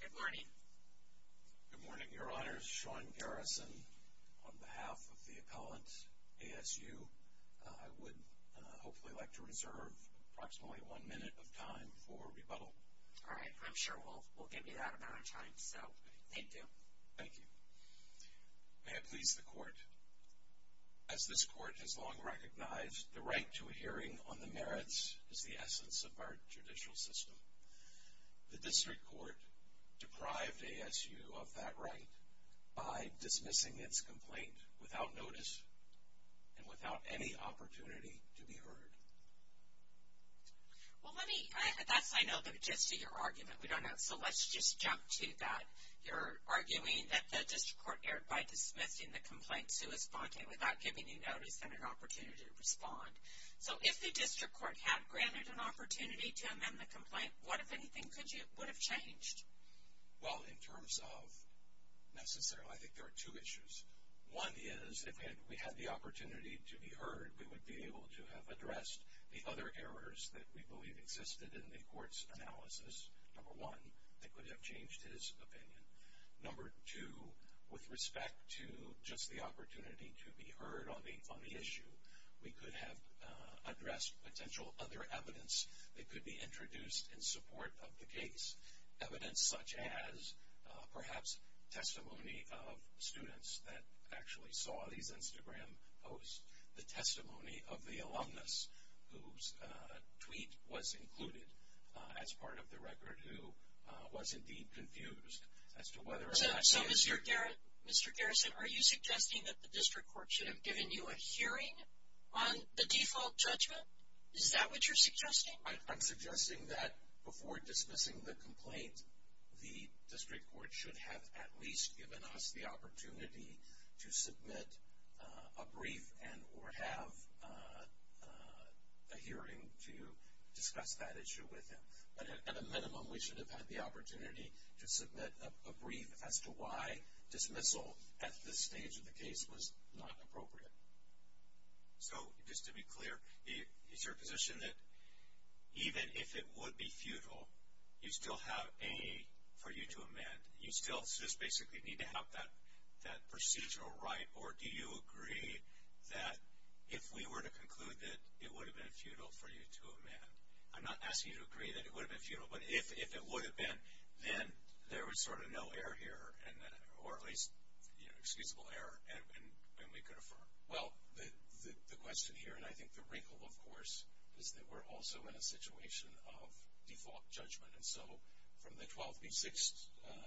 Good morning, Your Honors. Sean Garrison, on behalf of the appellant ASU, I would hopefully like to reserve approximately one minute of time for rebuttal. All right, I'm sure we'll give you that amount of time, so thank you. Thank you. May it please the Court, as this Court has long recognized, the right to a The District Court deprived ASU of that right by dismissing its complaint without notice and without any opportunity to be heard. Well, let me, that's, I know, but just to your argument, we don't know, so let's just jump to that. You're arguing that the District Court erred by dismissing the complaint suespontant without giving you notice and an opportunity to respond. So if the District Court had granted an opportunity to amend the complaint, what, if anything, would have changed? Well, in terms of, necessarily, I think there are two issues. One is, if we had the opportunity to be heard, we would be able to have addressed the other errors that we believe existed in the Court's analysis, number one, that could have changed his opinion. Number two, with potential other evidence that could be introduced in support of the case. Evidence such as, perhaps, testimony of students that actually saw these Instagram posts, the testimony of the alumnus whose tweet was included as part of the record, who was indeed confused as to whether or not... So Mr. Garrison, are you suggesting that the District Court should have given you a hearing on the default judgment? Is that what you're suggesting? I'm suggesting that before dismissing the complaint, the District Court should have at least given us the opportunity to submit a brief and or have a hearing to discuss that issue with him. But at a minimum, we should have had the opportunity to submit a brief as to why dismissal at this stage of the case was not appropriate. So, just to be clear, is your position that even if it would be futile, you still have A for you to amend? You still just basically need to have that procedural right or do you agree that if we were to conclude that it would have been futile for you to amend? I'm not asking you to agree that it would have been futile, but if it would have been, then There was sort of no error here, or at least excusable error, and we could affirm. Well, the question here, and I think the wrinkle, of course, is that we're also in a situation of default judgment. And so, from the 12B6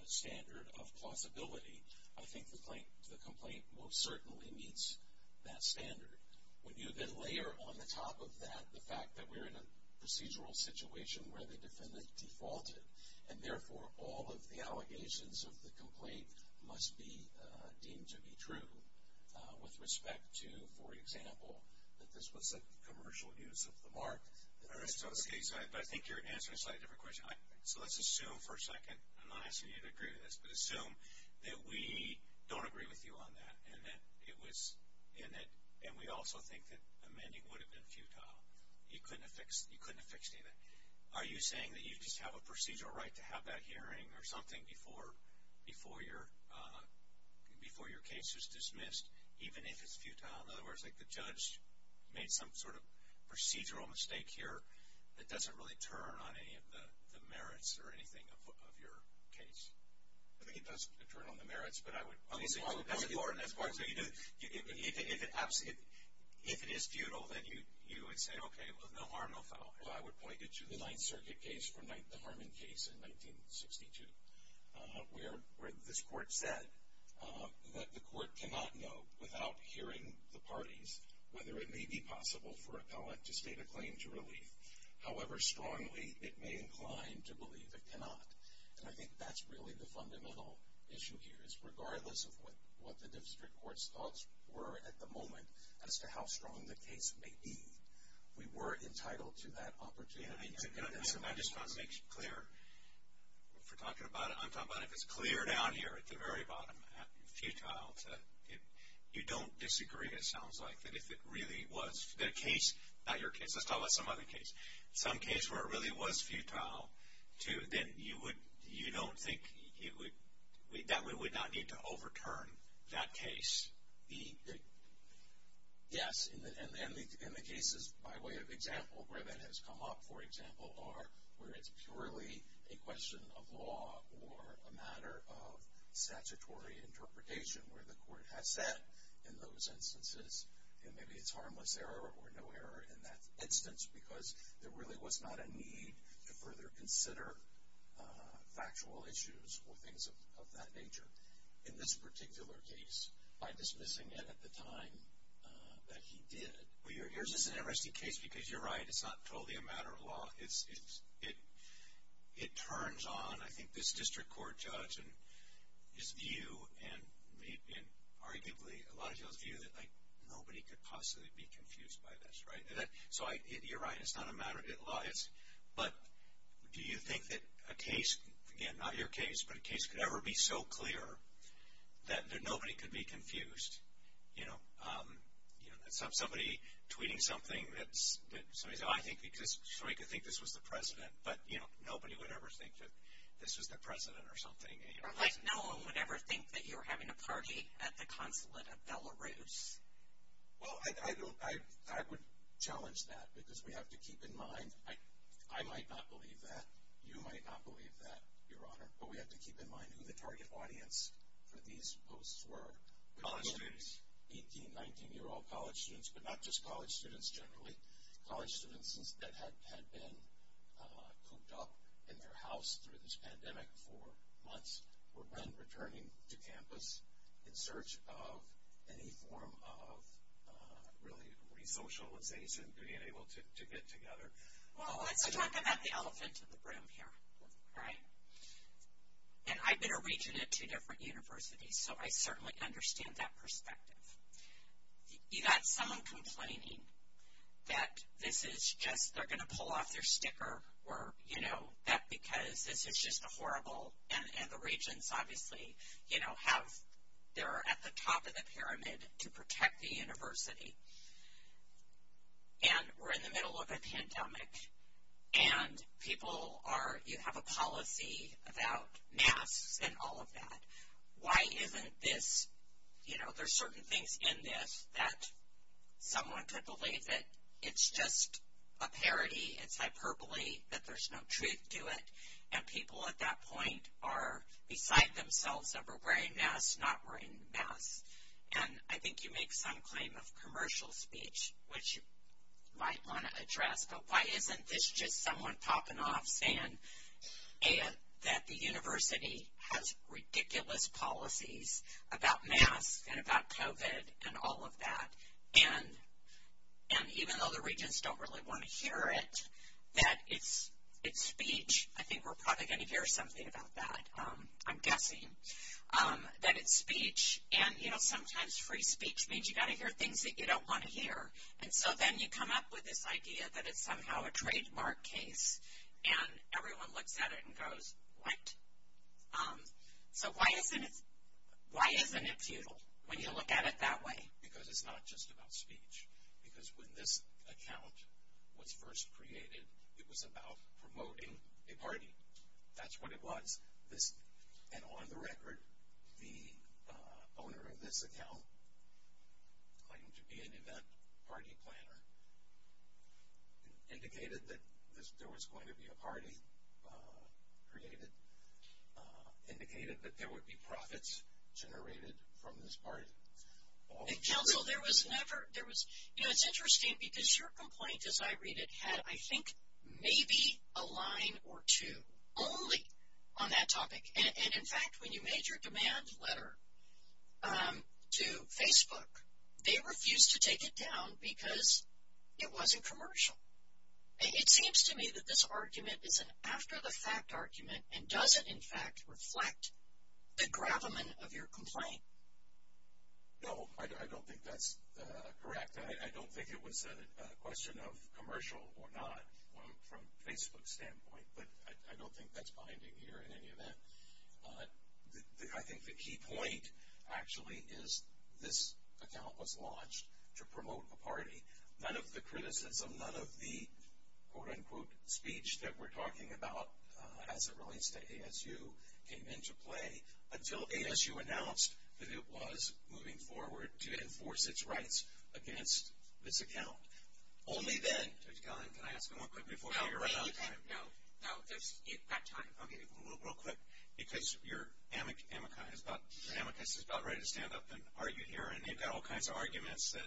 standard of plausibility, I think the complaint most certainly meets that standard. When you then layer on the top of that the fact that we're in a procedural situation where the defendant defaulted, and therefore, all of the allegations of the complaint must be deemed to be true with respect to, for example, that this was a commercial use of the mark. In this case, I think you're answering a slightly different question. So, let's assume for a second, I'm not asking you to agree to this, but assume that we don't agree with you on that and that it was in it, and we also think that amending would have been futile. You couldn't have fixed anything. Are you saying that you just have a procedural right to have that hearing or something before your case is dismissed, even if it's futile? In other words, like the judge made some sort of procedural mistake here that doesn't really turn on any of the merits or anything of your case? I think it does turn on the merits, but I would... If it is futile, then you would say, okay, well, no harm, no foul. Well, I would point you to the Ninth Circuit case, the Harmon case in 1962, where this court said that the court cannot know without hearing the parties whether it may be possible for an appellate to state a claim to relief, however strongly it may incline to believe it cannot. And I think that's really the fundamental issue here, is regardless of what the district court's thoughts were at the moment as to how strong the case may be, we were entitled to that opportunity. And I just want to make clear, if we're talking about it, I'm talking about if it's clear down here at the very bottom, futile to... You don't disagree, it sounds like, that if it really was... The case, not your case, let's talk about some other case, some case where it really was futile to... Then you would... You don't think you would... That we would not need to overturn that case. Yes, and the cases, by way of example, where that has come up, for example, are where it's purely a question of law or a matter of statutory interpretation where the court has said in those instances, maybe it's harmless error or no error in that instance because there really was not a need to further consider factual issues or things of that nature. In this particular case, by dismissing it at the time that he did... Well, here's just an interesting case because you're right, it's not totally a matter of law. It turns on, I think, this district court judge and his view, and arguably a lot of people's view, that nobody could possibly be confused by this, right? So you're right, it's not a matter of law, but do you think that a case... Again, not your case, but a case could ever be so clear that nobody could be confused? Somebody tweeting something that somebody said, I think this... Somebody could think this was the president, but nobody would ever think that this was the president or something. Like no one would ever think that you were having a party at the consulate of Belarus. Well, I would challenge that because we have to keep in mind, I might not believe that, you might not believe that, Your Honor, but we have to keep in mind who the target audience for these posts were. College students. 18, 19-year-old college students, but not just college students generally. College students that had been cooped up in their house through this pandemic for months were then returning to campus in search of any form of really resocialization, being able to get together. Well, let's talk about the elephant in the room here, right? And I've been a regent at two different universities, so I certainly understand that perspective. You got someone complaining that this is just, they're going to pull off their sticker or, you know, that because this is just a horrible, and the regents obviously, you know, have, they're at the top of the pyramid to protect the university, and we're in the middle of a pandemic, and people are, you have a policy about masks and all of that. Why isn't this, you know, there's certain things in this that someone could believe that it's just a parody, it's hyperbole, that there's no truth to it, and people at that point are beside themselves, that we're wearing masks, not wearing masks. And I think you make some claim of commercial speech, which you might want to address, but why isn't this just someone popping off saying that the university has ridiculous policies about And even though the regents don't really want to hear it, that it's speech, I think we're probably going to hear something about that, I'm guessing, that it's speech, and you know, sometimes free speech means you got to hear things that you don't want to hear, and so then you come up with this idea that it's somehow a trademark case, and everyone looks at it and goes, what? So why isn't it, why isn't it futile when you look at it that way? Because it's not just about speech. Because when this account was first created, it was about promoting a party. That's what it was. And on the record, the owner of this account claimed to be an event party planner, indicated that there was going to be a party created, indicated that there would be profits generated from this party. And counsel, there was never, there was, you know, it's interesting because your complaint as I read it had, I think, maybe a line or two only on that topic. And in fact, when you made your demand letter to Facebook, they refused to take it down because it wasn't a fact argument and doesn't, in fact, reflect the gravamen of your complaint. No, I don't think that's correct. I don't think it was a question of commercial or not from Facebook's standpoint, but I don't think that's binding here in any event. I think the key point, actually, is this account was launched to promote a party. None of the criticism, none of the quote unquote speech that we're talking about as it relates to ASU came into play until ASU announced that it was moving forward to enforce its rights against this account. Only then, Dr. Callahan, can I ask you one quick before you run out of time? No, you've got time. Okay, real quick, because your amicus is about ready to stand up and argue here and they've got all kinds of arguments that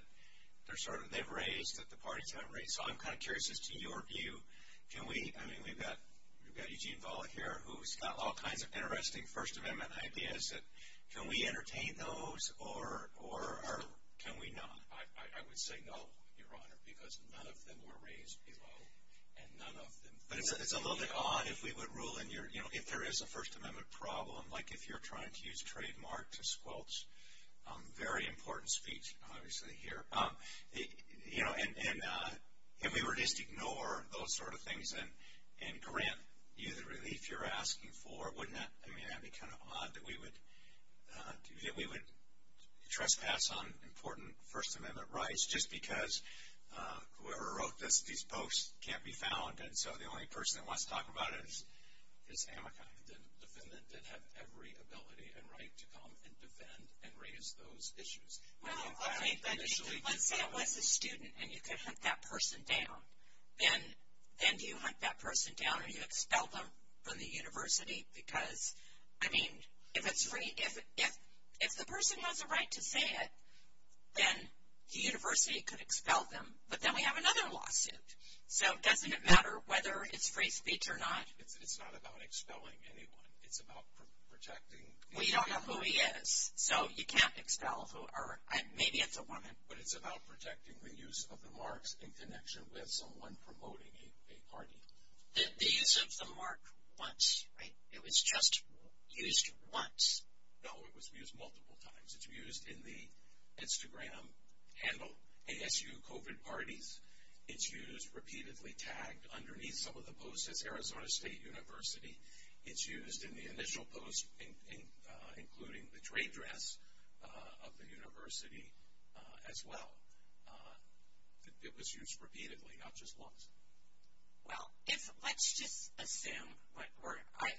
they've raised, that the parties haven't raised. So I'm kind of curious as to your view, can we, I mean, we've got Eugene Valle here who's got all kinds of interesting First Amendment ideas that, can we entertain those or can we not? I would say no, Your Honor, because none of them were raised below and none of them fell below. But it's a little bit odd if we would rule in your, you know, if there is a First Amendment problem, like if you're trying to use trademark to squelch, very important speech, obviously, here. You know, and if we were to just ignore those sort of things and grant you the relief you're asking for, wouldn't that, I mean, that would be kind of odd that we would, that we would trespass on important First Amendment rights just because whoever wrote this, these only person that wants to talk about it is amica. The defendant did have every ability and right to come and defend and raise those issues. Well, okay, but let's say it was a student and you could hunt that person down, then do you hunt that person down or do you expel them from the university? Because, I mean, if it's free, if the person has a right to say it, then the university could expel them. But then we have another lawsuit. So, doesn't it matter whether it's free speech or not? It's not about expelling anyone. It's about protecting. Well, you don't know who he is, so you can't expel, or maybe it's a woman. But it's about protecting the use of the marks in connection with someone promoting a party. The use of the mark once, right? It was just used once. No, it was used multiple times. It's used in the Instagram handle, ASU COVID Parties. It's used repeatedly tagged underneath some of the posts as Arizona State University. It's used in the initial posts, including the trade dress of the university as well. It was used repeatedly, not just once. Well, let's just assume,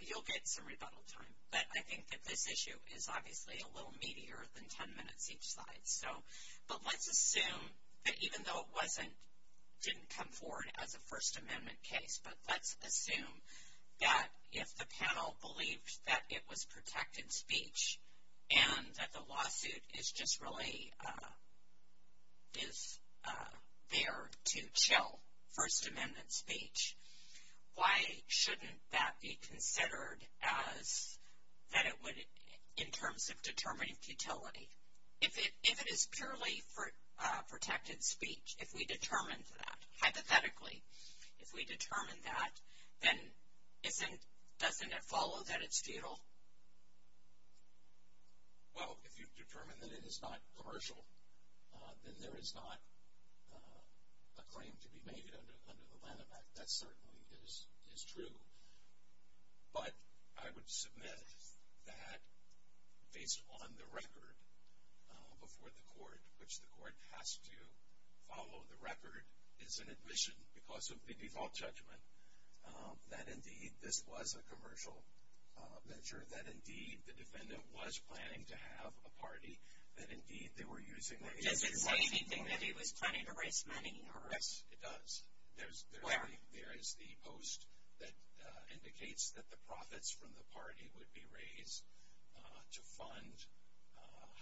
you'll get some rebuttal time, but I think that this issue is obviously a little meatier than 10 minutes each side. But let's assume that even though it didn't come forward as a First Amendment case, but let's assume that if the panel believed that it was protected speech, and that the lawsuit is just really, is there to chill First Amendment speech, why shouldn't that be considered as, that it would, in terms of determining futility? If it is purely protected speech, if we determined that, hypothetically, if we determined that, then isn't, doesn't it follow that it's futile? Well, if you've determined that it is not commercial, then there is not a claim to be made under the Lanham Act. That certainly is true. But I would submit that based on the record before the court, which the court has to follow the record, is an admission because of the default judgment, that indeed this was a commercial venture, that indeed the defendant was planning to have a party, that indeed they were using their agency. Does it say anything that he was planning to raise money for it? Yes, it does. Where? There is the post that indicates that the profits from the party would be raised to fund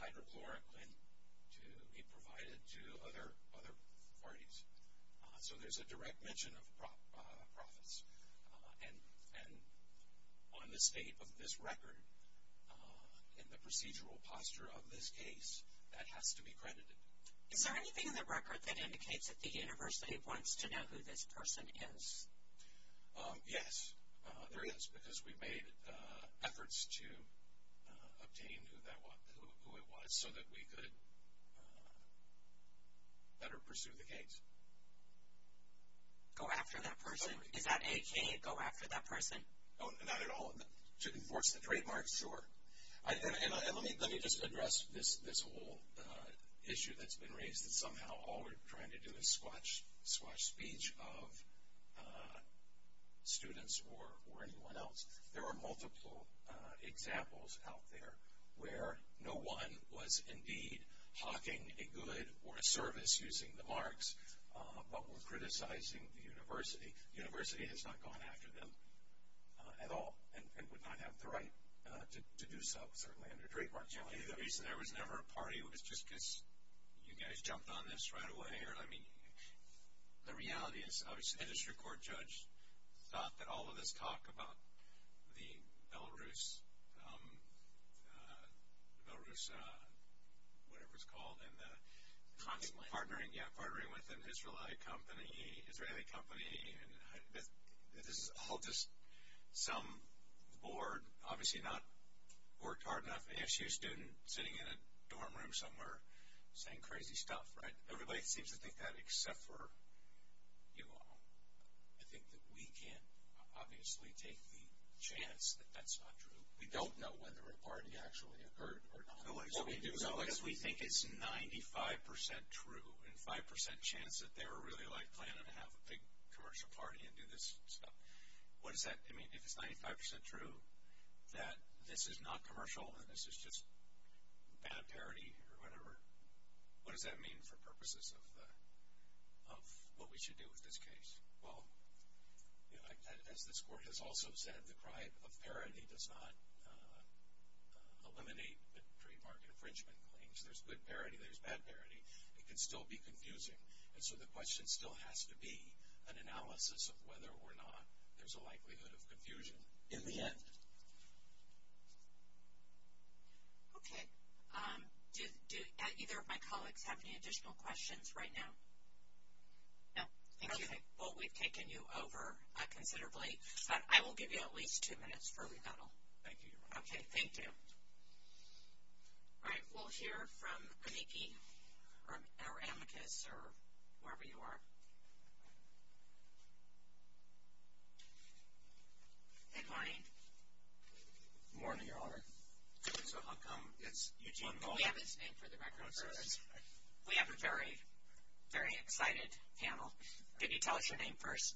hydrochloric lint to be provided to other parties. So there's a direct mention of profits. And on the state of this record, in the procedural posture of this case, that has to be credited. Is there anything in the record that indicates that the university wants to know who this person is? Yes, there is, because we made efforts to obtain who it was so that we could better pursue the case. Go after that person? Is that a, can you go after that person? No, not at all. To enforce the trademark? Sure. And let me just address this whole issue that's been raised, that somehow all we're trying to do is squash speech of students or anyone else. There are multiple examples out there where no one was indeed hawking a good or a service using the marks, but were criticizing the university. The university has not gone after them at all and would not have the right to do so, certainly under trademark challenge. I think the reason there was never a party was just because you guys jumped on this right away. I mean, the reality is obviously the district court judge thought that all of this talk about the Belarus, Belarus, whatever it's called, and the partnering with an Israelite company, Israeli company, and this is all just some board, obviously not worked hard enough ASU student sitting in a dorm room somewhere saying crazy stuff, right? Everybody seems to think that except for you all. I think that we can't obviously take the chance that that's not true. We don't know whether a party actually occurred or not. What we do know is we think it's 95% true and 5% chance that they were really like planning to have a big commercial party and do this stuff. What does that mean? If it's 95% true that this is not commercial and this is just bad parody or whatever, what does that mean for purposes of what we should do with this case? Well, as this court has also said, the crime of parody does not eliminate the trademark infringement claims. There's good parody. There's bad parody. It can still be confusing. And so the question still has to be an analysis of whether or not there's a likelihood of confusion in the end. Okay. Do either of my colleagues have any additional questions right now? No. Okay. Well, we've taken you over considerably. But I will give you at least two minutes for rebuttal. Thank you, Your Honor. Okay. Thank you. All right. We'll hear from Amiki or Amicus or wherever you are. Good morning. Good morning, Your Honor. So how come it's Eugene Mullen? We have his name for the record. We have a very, very excited panel. Can you tell us your name first?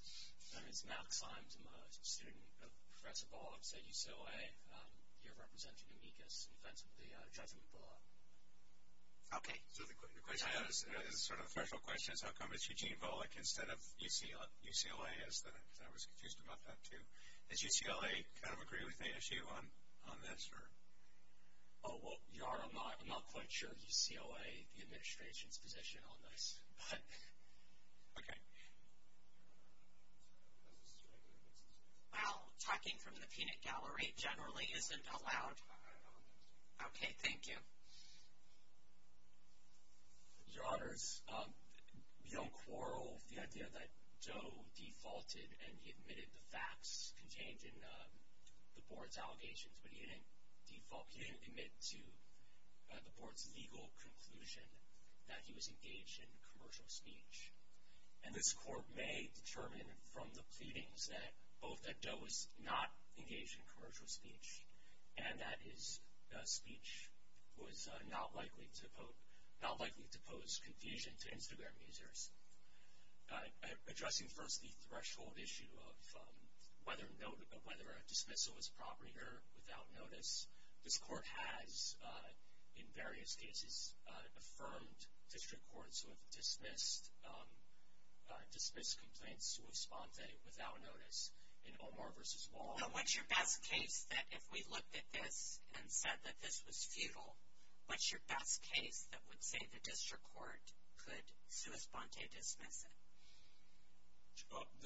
My name is Max Lymes. I'm a student of Professor Volokh's at UCLA. You're representing Amicus in defense of the judgment rule. Okay. So the question is sort of a threshold question is how come it's Eugene Volokh instead of UCLA, as I was confused about that too. Does UCLA kind of agree with the issue on this? Oh, well, Your Honor, I'm not quite sure. UCLA, the administration's position on this. Okay. Well, talking from the peanut gallery generally isn't allowed. Okay. Thank you. Your Honors, beyond quarrel, the idea that Joe defaulted and he admitted the facts contained in the board's allegations, but he didn't default. He didn't admit to the board's legal conclusion that he was engaged in commercial speech. And this court may determine from the pleadings that both that Joe was not engaged in commercial speech and that his speech was not likely to pose confusion to Instagram users. Addressing first the threshold issue of whether a dismissal is appropriate or without notice, this court has in various cases affirmed district courts who have dismissed complaints sui sponte without notice in Omar v. Wall. What's your best case that if we looked at this and said that this was futile, what's your best case that would say the district court could sui sponte dismiss it?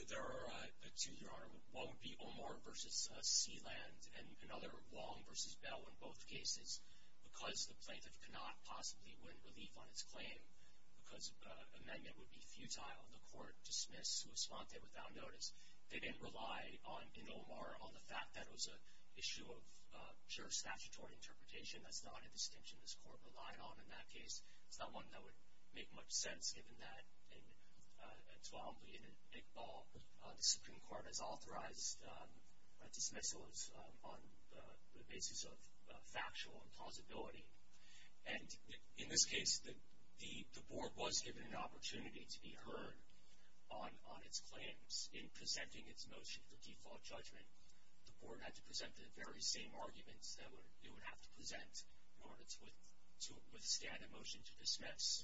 There are two, Your Honor. One would be Omar v. Sealand and another, Wall v. Bell, in both cases. Because the plaintiff could not possibly win relief on its claim because an amendment would be futile, the court dismissed sui sponte without notice. They didn't rely in Omar on the fact that it was an issue of juris statutory interpretation. That's not a distinction this court relied on in that case. It's not one that would make much sense given that in Tawambli and Iqbal, the Supreme Court has authorized dismissals on the basis of factual impossibility. And in this case, the board was given an opportunity to be heard on its claims. In presenting its motion for default judgment, the board had to present the very same arguments that it would have to present in order to withstand a motion to dismiss.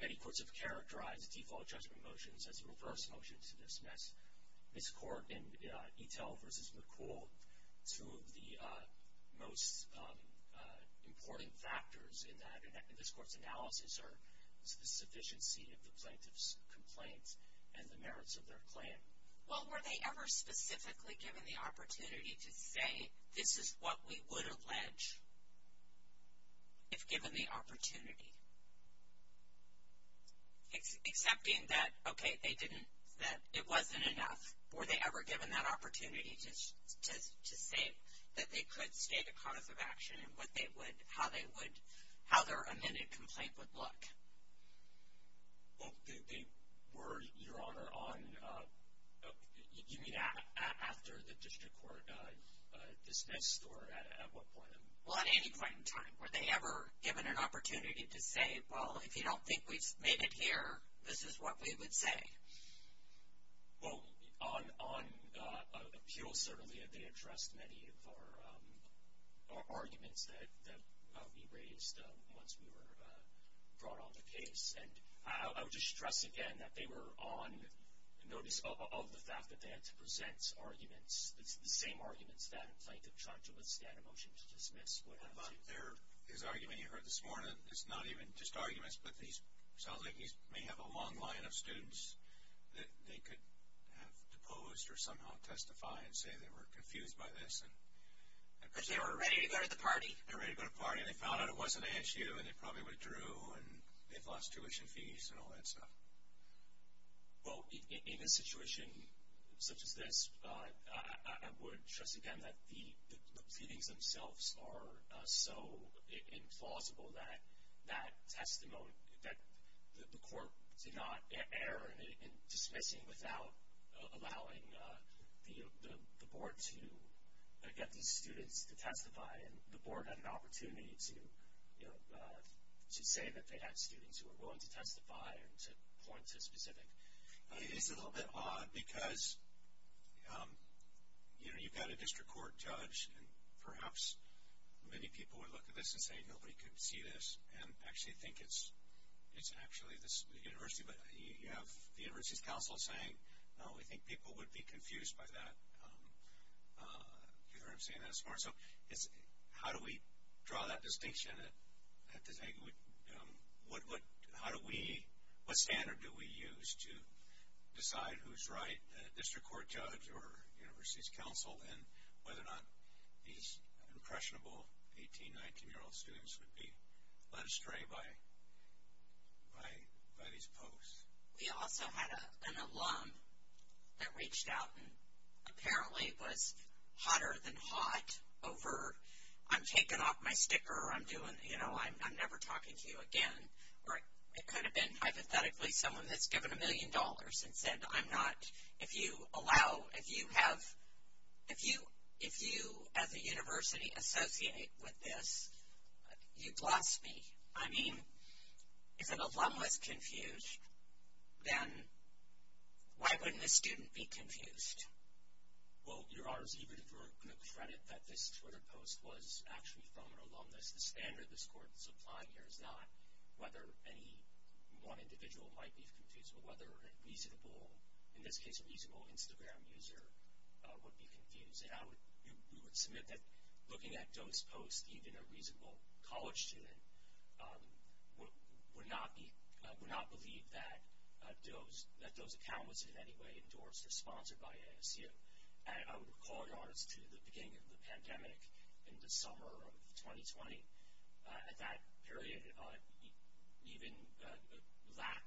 Many courts have characterized default judgment motions as a reverse motion to dismiss. This court in Itel v. McCool, two of the most important factors in this court's analysis are the sufficiency of the plaintiff's complaint and the merits of their claim. Well, were they ever specifically given the opportunity to say, this is what we would allege if given the opportunity? Accepting that, okay, they didn't, that it wasn't enough, were they ever given that opportunity to say that they could state a cause of action and what they would, how they would, how their amended complaint would look? Well, they were, Your Honor, on, you mean after the district court dismissed or at what point? Well, at any point in time. Were they ever given an opportunity to say, well, if you don't think we've made it here, this is what we would say? Well, on appeals, certainly, they addressed many of our arguments that we raised once we were brought on the case. And I would just stress again that they were on notice of the fact that they had to present arguments, the same arguments that a plaintiff tried to withstand a motion to dismiss would have to. Well, but there is argument you heard this morning, it's not even just arguments, but it sounds like you may have a long line of students that they could have deposed or somehow testify and say they were confused by this. But they were ready to go to the party. They were ready to go to the party and they found out it wasn't an issue and they probably withdrew and they've lost tuition fees and all that stuff. Well, in a situation such as this, I would stress again that the pleadings themselves are so implausible that the court did not err in dismissing without allowing the board to get these students to testify. And the board had an opportunity to say that they had students who were willing to testify and to point to a specific. It's a little bit odd because, you know, you've got a district court judge and perhaps many people would look at this and say nobody could see this and actually think it's actually the university. But you have the university's counsel saying, no, I think people would be confused by that. Do you hear what I'm saying? That's smart. So how do we draw that distinction? What standard do we use to decide who's right, the district court judge or university's counsel, and whether or not these impressionable 18, 19-year-old students would be led astray by these posts? We also had an alum that reached out and apparently was hotter than hot over I'm taking off my sticker, I'm doing, you know, I'm never talking to you again. Or it could have been hypothetically someone that's given a million dollars and said I'm not, if you allow, if you have, if you as a university associate with this, you've lost me. I mean, if an alum was confused, then why wouldn't a student be confused? Well, your Honor's even for credit that this Twitter post was actually from an alumnus. The standard this court is applying here is not whether any one individual might be confused, but whether a reasonable, in this case, a reasonable Instagram user would be confused. And I would, we would submit that looking at those posts, even a reasonable college student would not be, would not believe that those, that those accountants in any way endorsed or sponsored by ASU. And I would recall, Your Honor, to the beginning of the pandemic in the summer of 2020, at that period even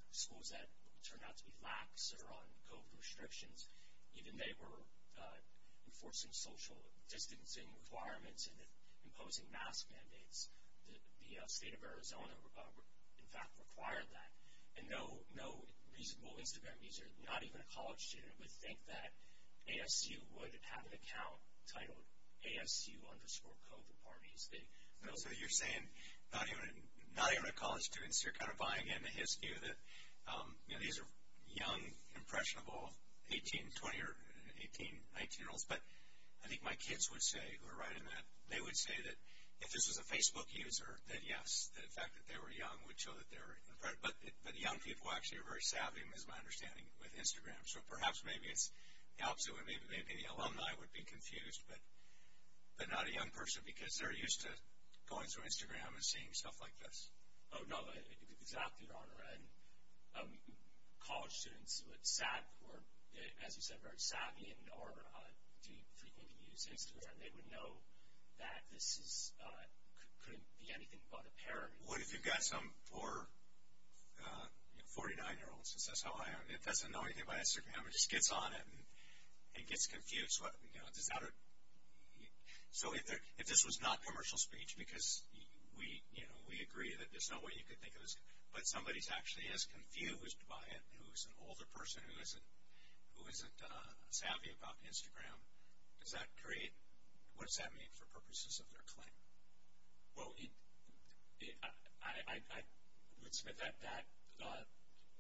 schools that turned out to be lax or on COVID restrictions, even they were enforcing social distancing requirements and imposing mask mandates, the state of Arizona, in fact, required that. And no reasonable Instagram user, not even a college student, would think that ASU would have an account titled ASU underscore COVID parties. So you're saying not even a college student, so you're kind of buying into his view that, you know, these are young, impressionable 18, 20 or 18, 19-year-olds. But I think my kids would say, who are writing that, they would say that if this was a Facebook user, that yes, the fact that they were young would show that they were, but young people actually are very savvy, is my understanding, with Instagram. So perhaps maybe it's the opposite, where maybe the alumni would be confused, but not a young person because they're used to going through Instagram and seeing stuff like this. Oh, no, exactly, Your Honor. And college students, as you said, are very savvy and do frequently use Instagram. They would know that this couldn't be anything but a parent. What if you've got some poor 49-year-old, since that's how I am, that doesn't know anything about Instagram and just gets on it and gets confused? So if this was not commercial speech, because we agree that there's no way you could think of this, but somebody is actually as confused by it who is an older person who isn't savvy about Instagram, what does that mean for purposes of their claim? Well, I would submit that that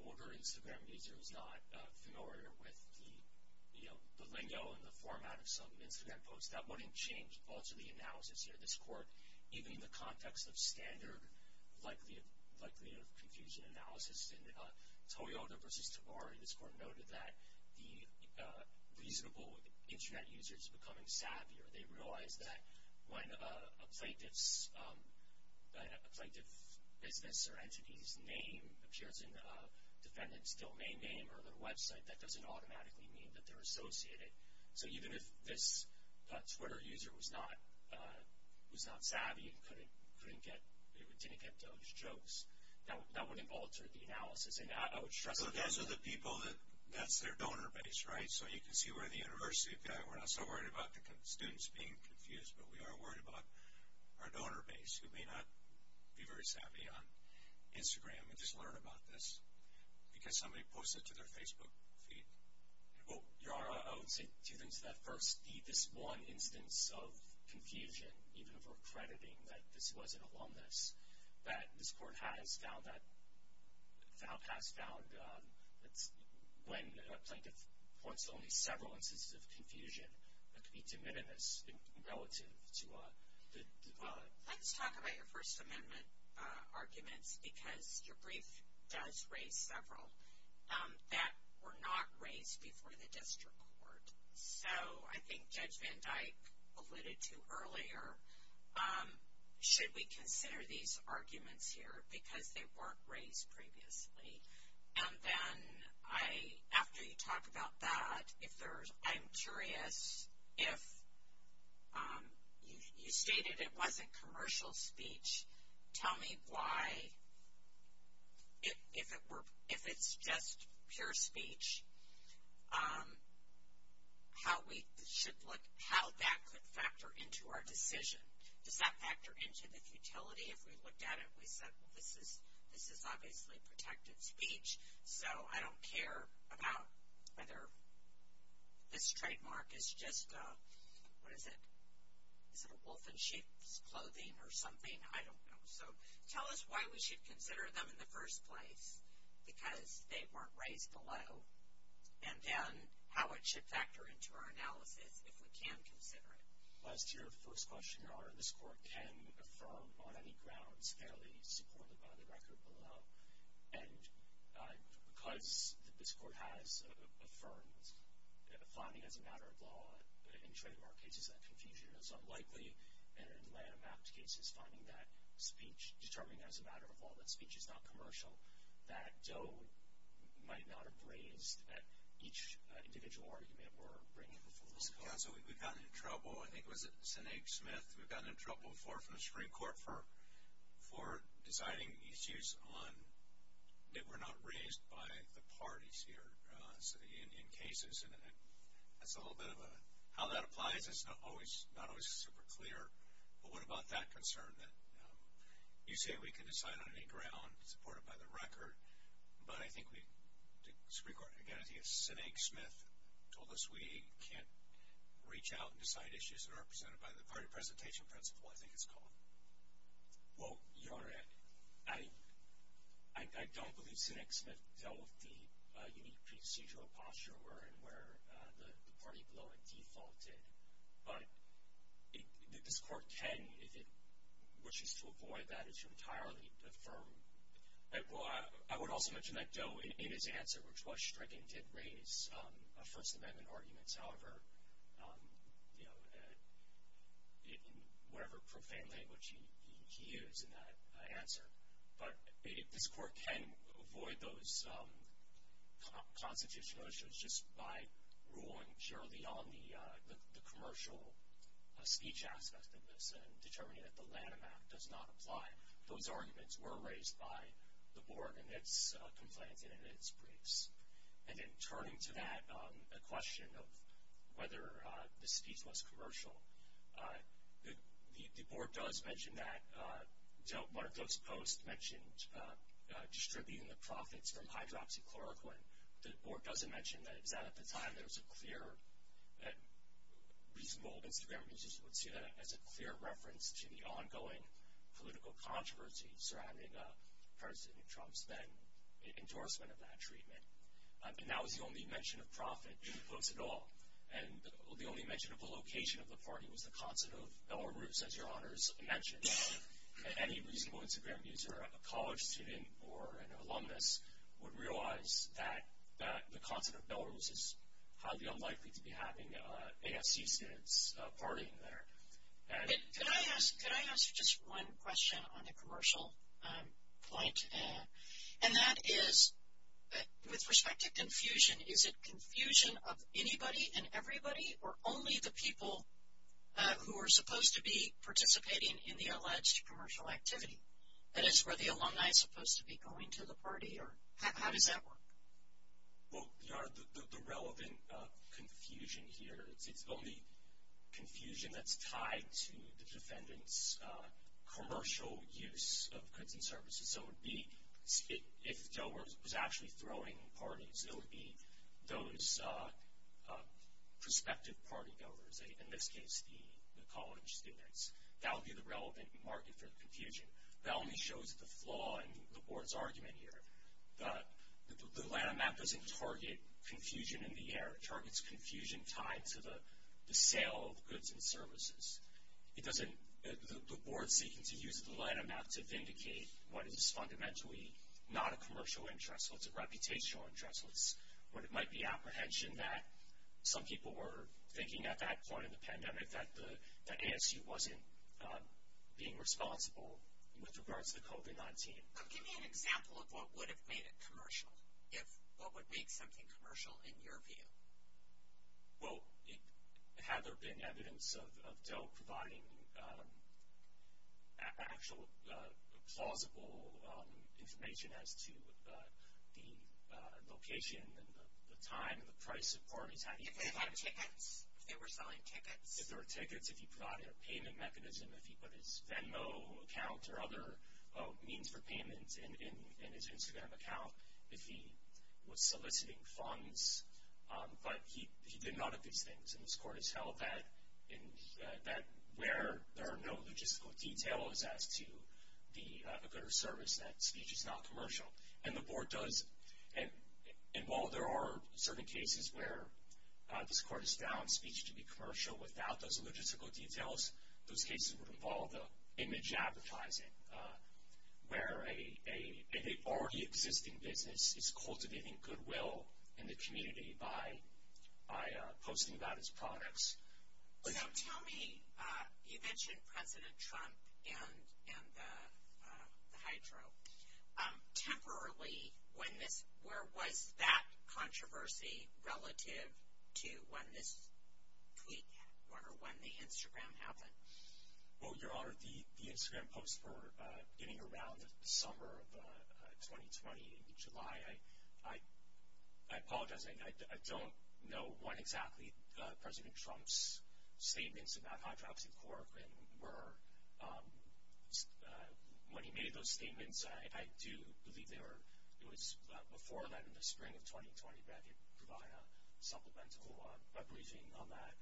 older Instagram user is not familiar with the, you know, the lingo and the format of some Instagram posts. That wouldn't change ultimately analysis here. This court, even in the context of standard likelihood of confusion analysis, in Toyota versus Tabari, this court noted that the reasonable Internet user is becoming savvier. They realize that when a plaintiff's business or entity's name appears in a defendant's domain name or their website, that doesn't automatically mean that they're associated. So even if this Twitter user was not savvy and couldn't get, didn't get those jokes, that wouldn't alter the analysis. And I would stress again. So those are the people that, that's their donor base, right? So you can see where the university have got. We're not so worried about the students being confused, but we are worried about our donor base who may not be very savvy on Instagram and just learn about this because somebody posted to their Facebook feed. Well, your honor, I would say two things to that. First, this one instance of confusion, even if we're crediting that this was an alumnus, that this court has found that when a plaintiff points to only several instances of confusion, that could be de minimis relative to the. Let's talk about your First Amendment arguments because your brief does raise several that were not raised before the district court. So I think Judge Van Dyke alluded to earlier, should we consider these arguments here because they weren't raised previously? And then I, after you talk about that, if there's, I'm curious if you stated it wasn't commercial speech, tell me why, if it's just pure speech, how we should look, how that could factor into our decision. Does that factor into the futility? If we looked at it, we said, well, this is obviously protective speech, so I don't care about whether this trademark is just, what is it? Is it a wolf in sheep's clothing or something? I don't know. So tell us why we should consider them in the first place, because they weren't raised below, and then how it should factor into our analysis if we can consider it. Well, as to your first question, Your Honor, this court can affirm on any grounds fairly supported by the record below. And because this court has affirmed finding as a matter of law in trademark cases that confusion is unlikely and in landmark cases finding that speech, determining as a matter of law that speech is not commercial, that Doe might not have raised at each individual argument we're bringing before this court. Counsel, we've gotten in trouble, I think it was at Sinead Smith, we've gotten in trouble before from the Supreme Court for deciding issues that were not raised by the parties here in cases. And that's a little bit of how that applies. It's not always super clear. But what about that concern that you say we can decide on any ground supported by the record, but I think the Supreme Court, again, I think it was Sinead Smith, told us we can't reach out and decide issues that are represented by the party presentation principle, I think it's called. Well, Your Honor, I don't believe Sinead Smith dealt with the unique procedural posture where the party below it defaulted. But this court can, if it wishes to avoid that, it's entirely affirmed. I would also mention that Doe, in his answer, which was striking, did raise First Amendment arguments. However, in whatever profane language he used in that answer. But this court can avoid those constitutional issues just by ruling purely on the commercial speech aspect of this and determining that the Lanham Act does not apply. And that those arguments were raised by the board in its complaints and in its briefs. And then turning to that question of whether the speech was commercial, the board does mention that. One of those posts mentioned distributing the profits from hydroxychloroquine. The board doesn't mention that. The board mentions that at the time. There was a clear, reasonable Instagram users would see that as a clear reference to the ongoing political controversy surrounding President Trump's then endorsement of that treatment. And that was the only mention of profit in the post at all. And the only mention of the location of the party was the concert of Belarus, as Your Honor's mentioned. Any reasonable Instagram user, a college student or an alumnus, would realize that the concert of Belarus is highly unlikely to be having AFC students partying there. Could I ask just one question on the commercial point? And that is, with respect to confusion, is it confusion of anybody and everybody, or only the people who are supposed to be participating in the alleged commercial activity? That is, were the alumni supposed to be going to the party, or how does that work? Well, Your Honor, the relevant confusion here, it's only confusion that's tied to the defendant's commercial use of goods and services. So it would be, if Delaware was actually throwing parties, it would be those prospective party goers, in this case the college students. That would be the relevant market for the confusion. That only shows the flaw in the board's argument here. The line of math doesn't target confusion in the air. The board's seeking to use the line of math to vindicate what is fundamentally not a commercial interest. It's a reputational interest. It might be apprehension that some people were thinking at that point in the pandemic that AFC wasn't being responsible with regards to COVID-19. Give me an example of what would have made it commercial. What would make something commercial in your view? Well, had there been evidence of Dell providing actual plausible information as to the location and the time and the price of parties? If they had tickets, if they were selling tickets. If there were tickets, if he provided a payment mechanism, if he put his Venmo account or other means for payment in his Instagram account, if he was soliciting funds. But he did none of these things. And this court has held that where there are no logistical details as to the good or service, that speech is not commercial. And the board does. And while there are certain cases where this court has found speech to be commercial without those logistical details, those cases would involve the image advertising, where an already existing business is cultivating goodwill in the community by posting about its products. So tell me, you mentioned President Trump and the hydro. Temporarily, when this, where was that controversy relative to when this tweak happened or when the Instagram happened? Well, Your Honor, the Instagram posts were getting around the summer of 2020 in July. I apologize. I don't know when exactly President Trump's statements about hydroxychloroquine were. When he made those statements, I do believe they were, it was before that in the spring of 2020, but I did provide a supplemental briefing on that.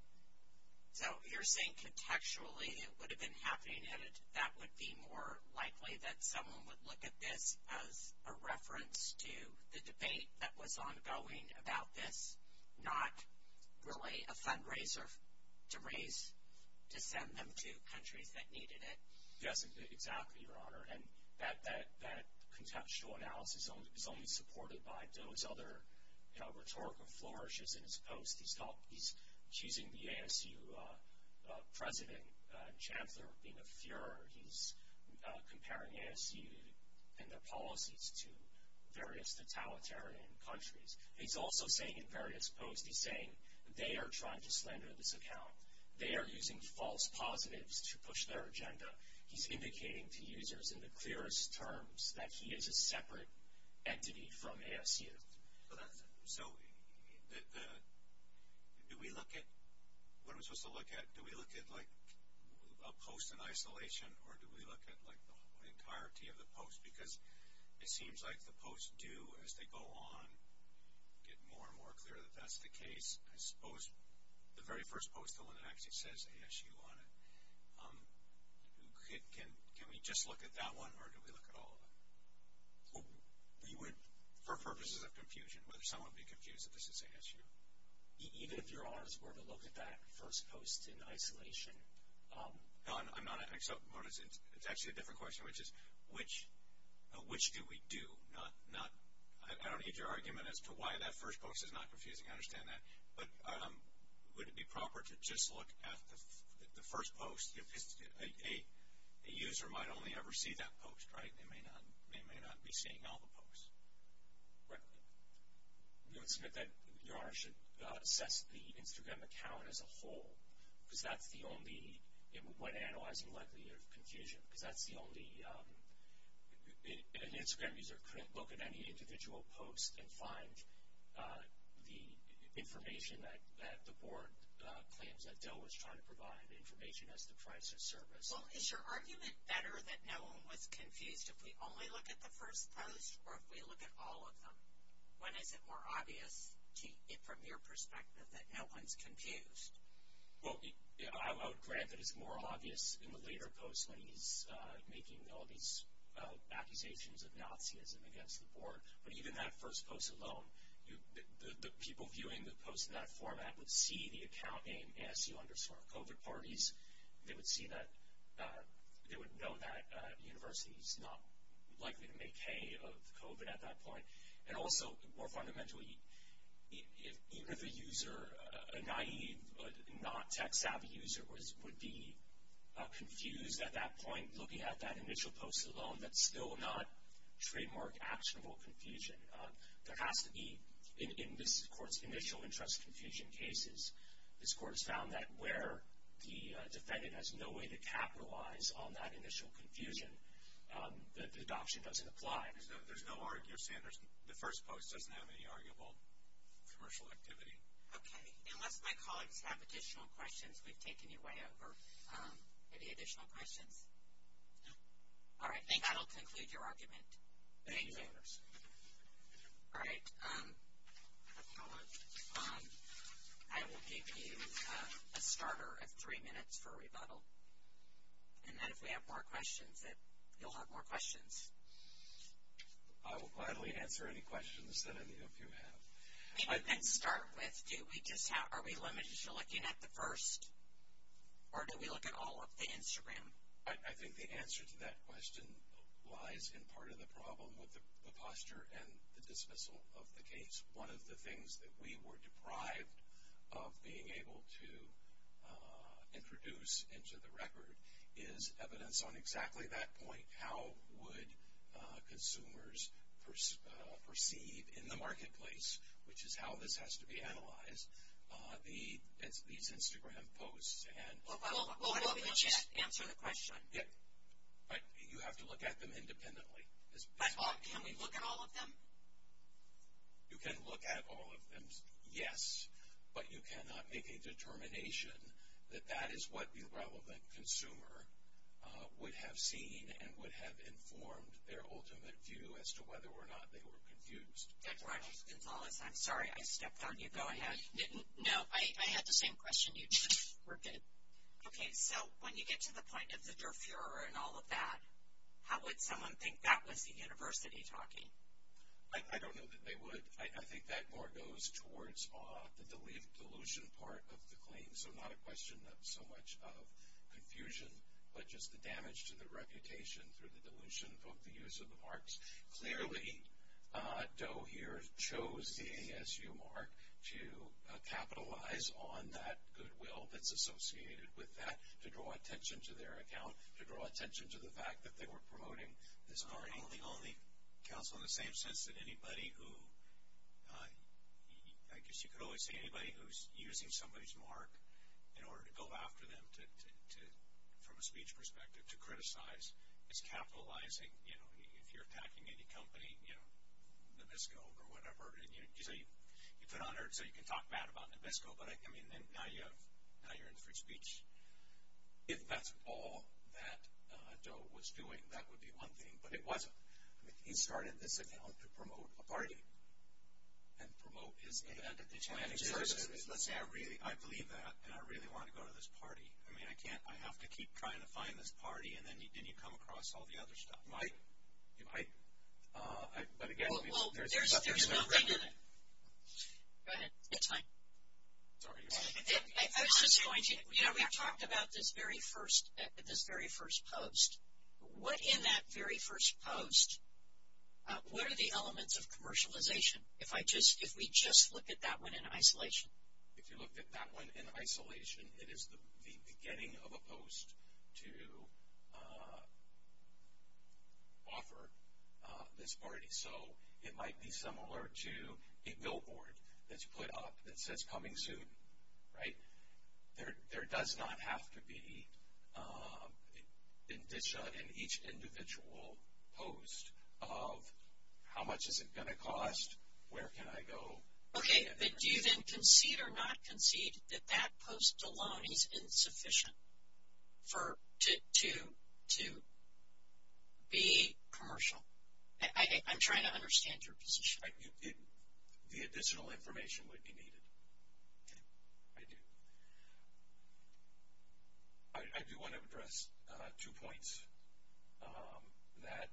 So you're saying contextually it would have been happening, and that would be more likely that someone would look at this as a reference to the debate that was ongoing about this, not really a fundraiser to raise, to send them to countries that needed it. Yes, exactly, Your Honor. And that contextual analysis is only supported by those other rhetorical flourishes in his posts. He's accusing the ASU president and chancellor of being a furor. He's comparing ASU and their policies to various totalitarian countries. He's also saying in various posts, he's saying they are trying to slander this account. They are using false positives to push their agenda. He's indicating to users in the clearest terms that he is a separate entity from ASU. So do we look at, what are we supposed to look at? Do we look at, like, a post in isolation, or do we look at, like, the entirety of the post? Because it seems like the posts do, as they go on, get more and more clear that that's the case. I suppose the very first post, the one that actually says ASU on it, can we just look at that one, or do we look at all of them? We would, for purposes of confusion, whether some would be confused that this is ASU. Even if Your Honors were to look at that first post in isolation? No, I'm not. It's actually a different question, which is, which do we do? I don't need your argument as to why that first post is not confusing. I understand that. But would it be proper to just look at the first post? A user might only ever see that post, right? They may not be seeing all the posts. Right. We would submit that Your Honors should assess the Instagram account as a whole, because that's the only, when analyzing likelihood of confusion, because that's the only, an Instagram user couldn't look at any individual post and find the information that the board claims that Dill was trying to provide, information as to price or service. Well, is your argument better that no one was confused if we only look at the first post or if we look at all of them? When is it more obvious, from your perspective, that no one's confused? Well, I would grant that it's more obvious in the later posts when he's making all these accusations of Nazism against the board, but even that first post alone, the people viewing the post in that format would see the account name ASU under smart COVID parties. They would see that, they would know that the university is not likely to make hay of COVID at that point. And also, more fundamentally, even if a user, a naive, not tech savvy user, would be confused at that point looking at that initial post alone, that's still not trademark actionable confusion. There has to be, in this court's initial interest confusion cases, this court has found that where the defendant has no way to capitalize on that initial confusion, the adoption doesn't apply. There's no argument, Sanders. The first post doesn't have any arguable commercial activity. Okay. Unless my colleagues have additional questions, we've taken your way over. Any additional questions? No. All right. Thank you. That will conclude your argument. Thank you, Sanders. All right. I will give you a starter of three minutes for rebuttal. And then if we have more questions, you'll have more questions. I will gladly answer any questions that any of you have. Let's start with, are we limited to looking at the first? Or do we look at all of the Instagram? I think the answer to that question lies in part of the problem with the posture and the dismissal of the case. One of the things that we were deprived of being able to introduce into the record is evidence on exactly that point, how would consumers perceive in the marketplace, which is how this has to be analyzed, these Instagram posts. We'll answer the question. You have to look at them independently. Can we look at all of them? You can look at all of them, yes. But you cannot make a determination that that is what the relevant consumer would have seen and would have informed their ultimate view as to whether or not they were confused. Dr. Gonzalez, I'm sorry, I stepped on you. Go ahead. No, I had the same question you did. We're good. Okay, so when you get to the point of the Durfurer and all of that, how would someone think that was the university talking? I don't know that they would. I think that more goes towards the delusion part of the claim, so not a question of so much of confusion, but just the damage to the reputation through the delusion of the use of the marks. Clearly, Doe here chose the ASU mark to capitalize on that goodwill that's associated with that, to draw attention to their account, to draw attention to the fact that they were promoting this party. It only counts in the same sense that anybody who, I guess you could always say anybody who's using somebody's mark in order to go after them from a speech perspective, to criticize, is capitalizing. You know, if you're attacking any company, you know, Nabisco or whatever, and you say you put on earth so you can talk bad about Nabisco, but now you're in free speech. If that's all that Doe was doing, that would be one thing, but it wasn't. He started this account to promote a party and promote his event. Let's say I believe that and I really want to go to this party. I mean, I have to keep trying to find this party, and then you come across all the other stuff. You might. You might. But, again. Well, there's nothing in it. Go ahead. It's fine. Sorry. I was just going to. You know, we talked about this very first post. What in that very first post, what are the elements of commercialization? If we just look at that one in isolation. If you looked at that one in isolation, it is the beginning of a post to offer this party. So, it might be similar to a billboard that's put up that says coming soon. Right? There does not have to be indicia in each individual post of how much is it going to cost, where can I go. Okay, but do you then concede or not concede that that post alone is insufficient to be commercial? I'm trying to understand your position. The additional information would be needed. I do. I do want to address two points that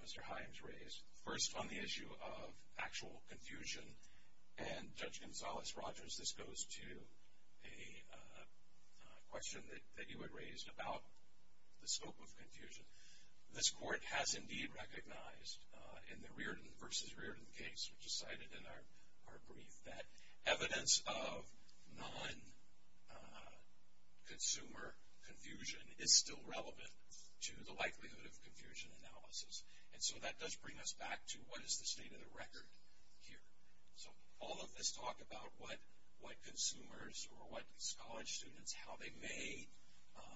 Mr. Himes raised. First, on the issue of actual confusion. And, Judge Gonzales-Rogers, this goes to a question that you had raised about the scope of confusion. This court has indeed recognized in the Reardon versus Reardon case, which is cited in our brief, that evidence of non-consumer confusion is still relevant to the likelihood of confusion analysis. And so, that does bring us back to what is the state of the record here. So, all of this talk about what consumers or what college students, how they may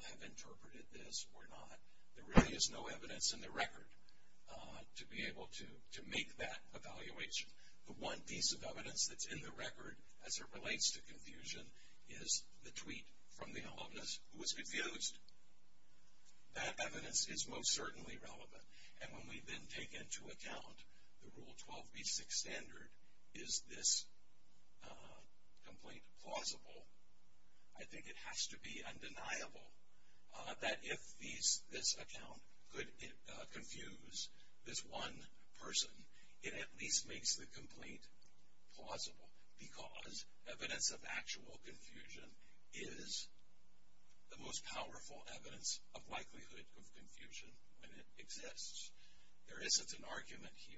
have interpreted this or not, there really is no evidence in the record to be able to make that evaluation. The one piece of evidence that's in the record as it relates to confusion is the tweet from the alumnus who was confused. That evidence is most certainly relevant. And when we then take into account the Rule 12b6 standard, is this complaint plausible, I think it has to be undeniable that if this account could confuse this one person, it at least makes the complaint plausible, because evidence of actual confusion is the most powerful evidence of likelihood of confusion when it exists. There isn't an argument here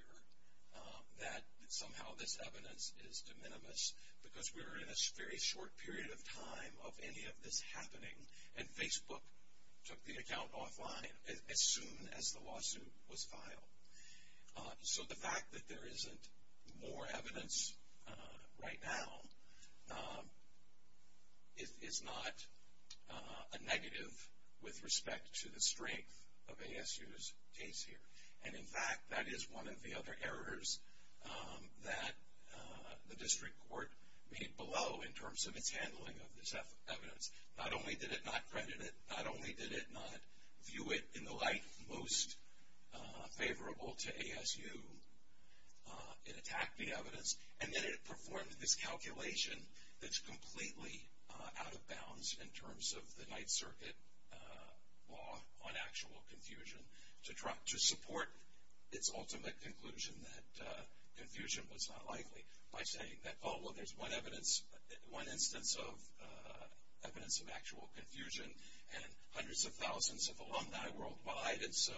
that somehow this evidence is de minimis, because we're in a very short period of time of any of this happening, and Facebook took the account offline as soon as the lawsuit was filed. So, the fact that there isn't more evidence right now is not a negative with respect to the strength of ASU's case here. And, in fact, that is one of the other errors that the district court made below in terms of its handling of this evidence. Not only did it not credit it, not only did it not view it in the light most favorable to ASU, it attacked the evidence, and then it performed this calculation that's completely out of bounds in terms of the Ninth Circuit law on actual confusion to support its ultimate conclusion that confusion was not likely, by saying that, oh, well, there's one evidence, one instance of evidence of actual confusion, and hundreds of thousands of alumni worldwide, and so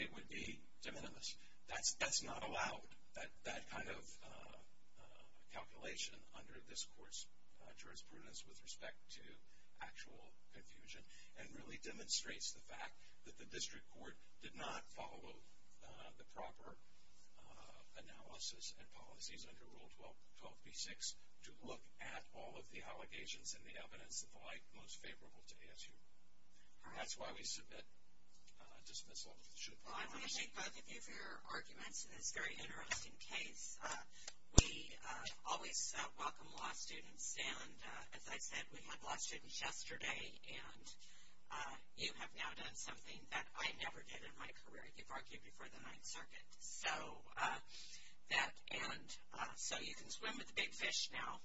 it would be de minimis. That's not allowed, that kind of calculation under this court's jurisprudence with respect to actual confusion, and really demonstrates the fact that the district court did not follow the proper analysis and policies under Rule 12b-6 to look at all of the allegations and the evidence in the light most favorable to ASU. And that's why we submit, dismiss, or should. Well, I want to thank both of you for your arguments in this very interesting case. We always welcome law students, and as I said, we had law students yesterday, and you have now done something that I never did in my career. You've argued before the Ninth Circuit, so that, and so you can swim with the big fish now,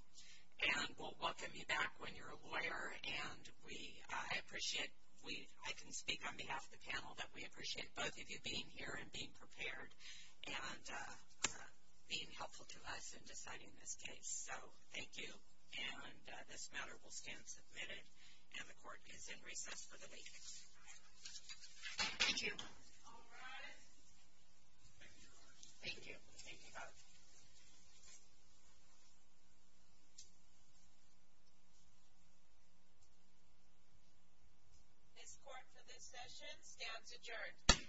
and we'll welcome you back when you're a lawyer, and we, I appreciate, I can speak on behalf of the panel, that we appreciate both of you being here and being prepared, and being helpful to us in deciding this case. So, thank you, and this matter will stand submitted, and the court is in recess for the week. Thank you. All rise. Thank you. Thank you both. Thank you. This court for this session stands adjourned.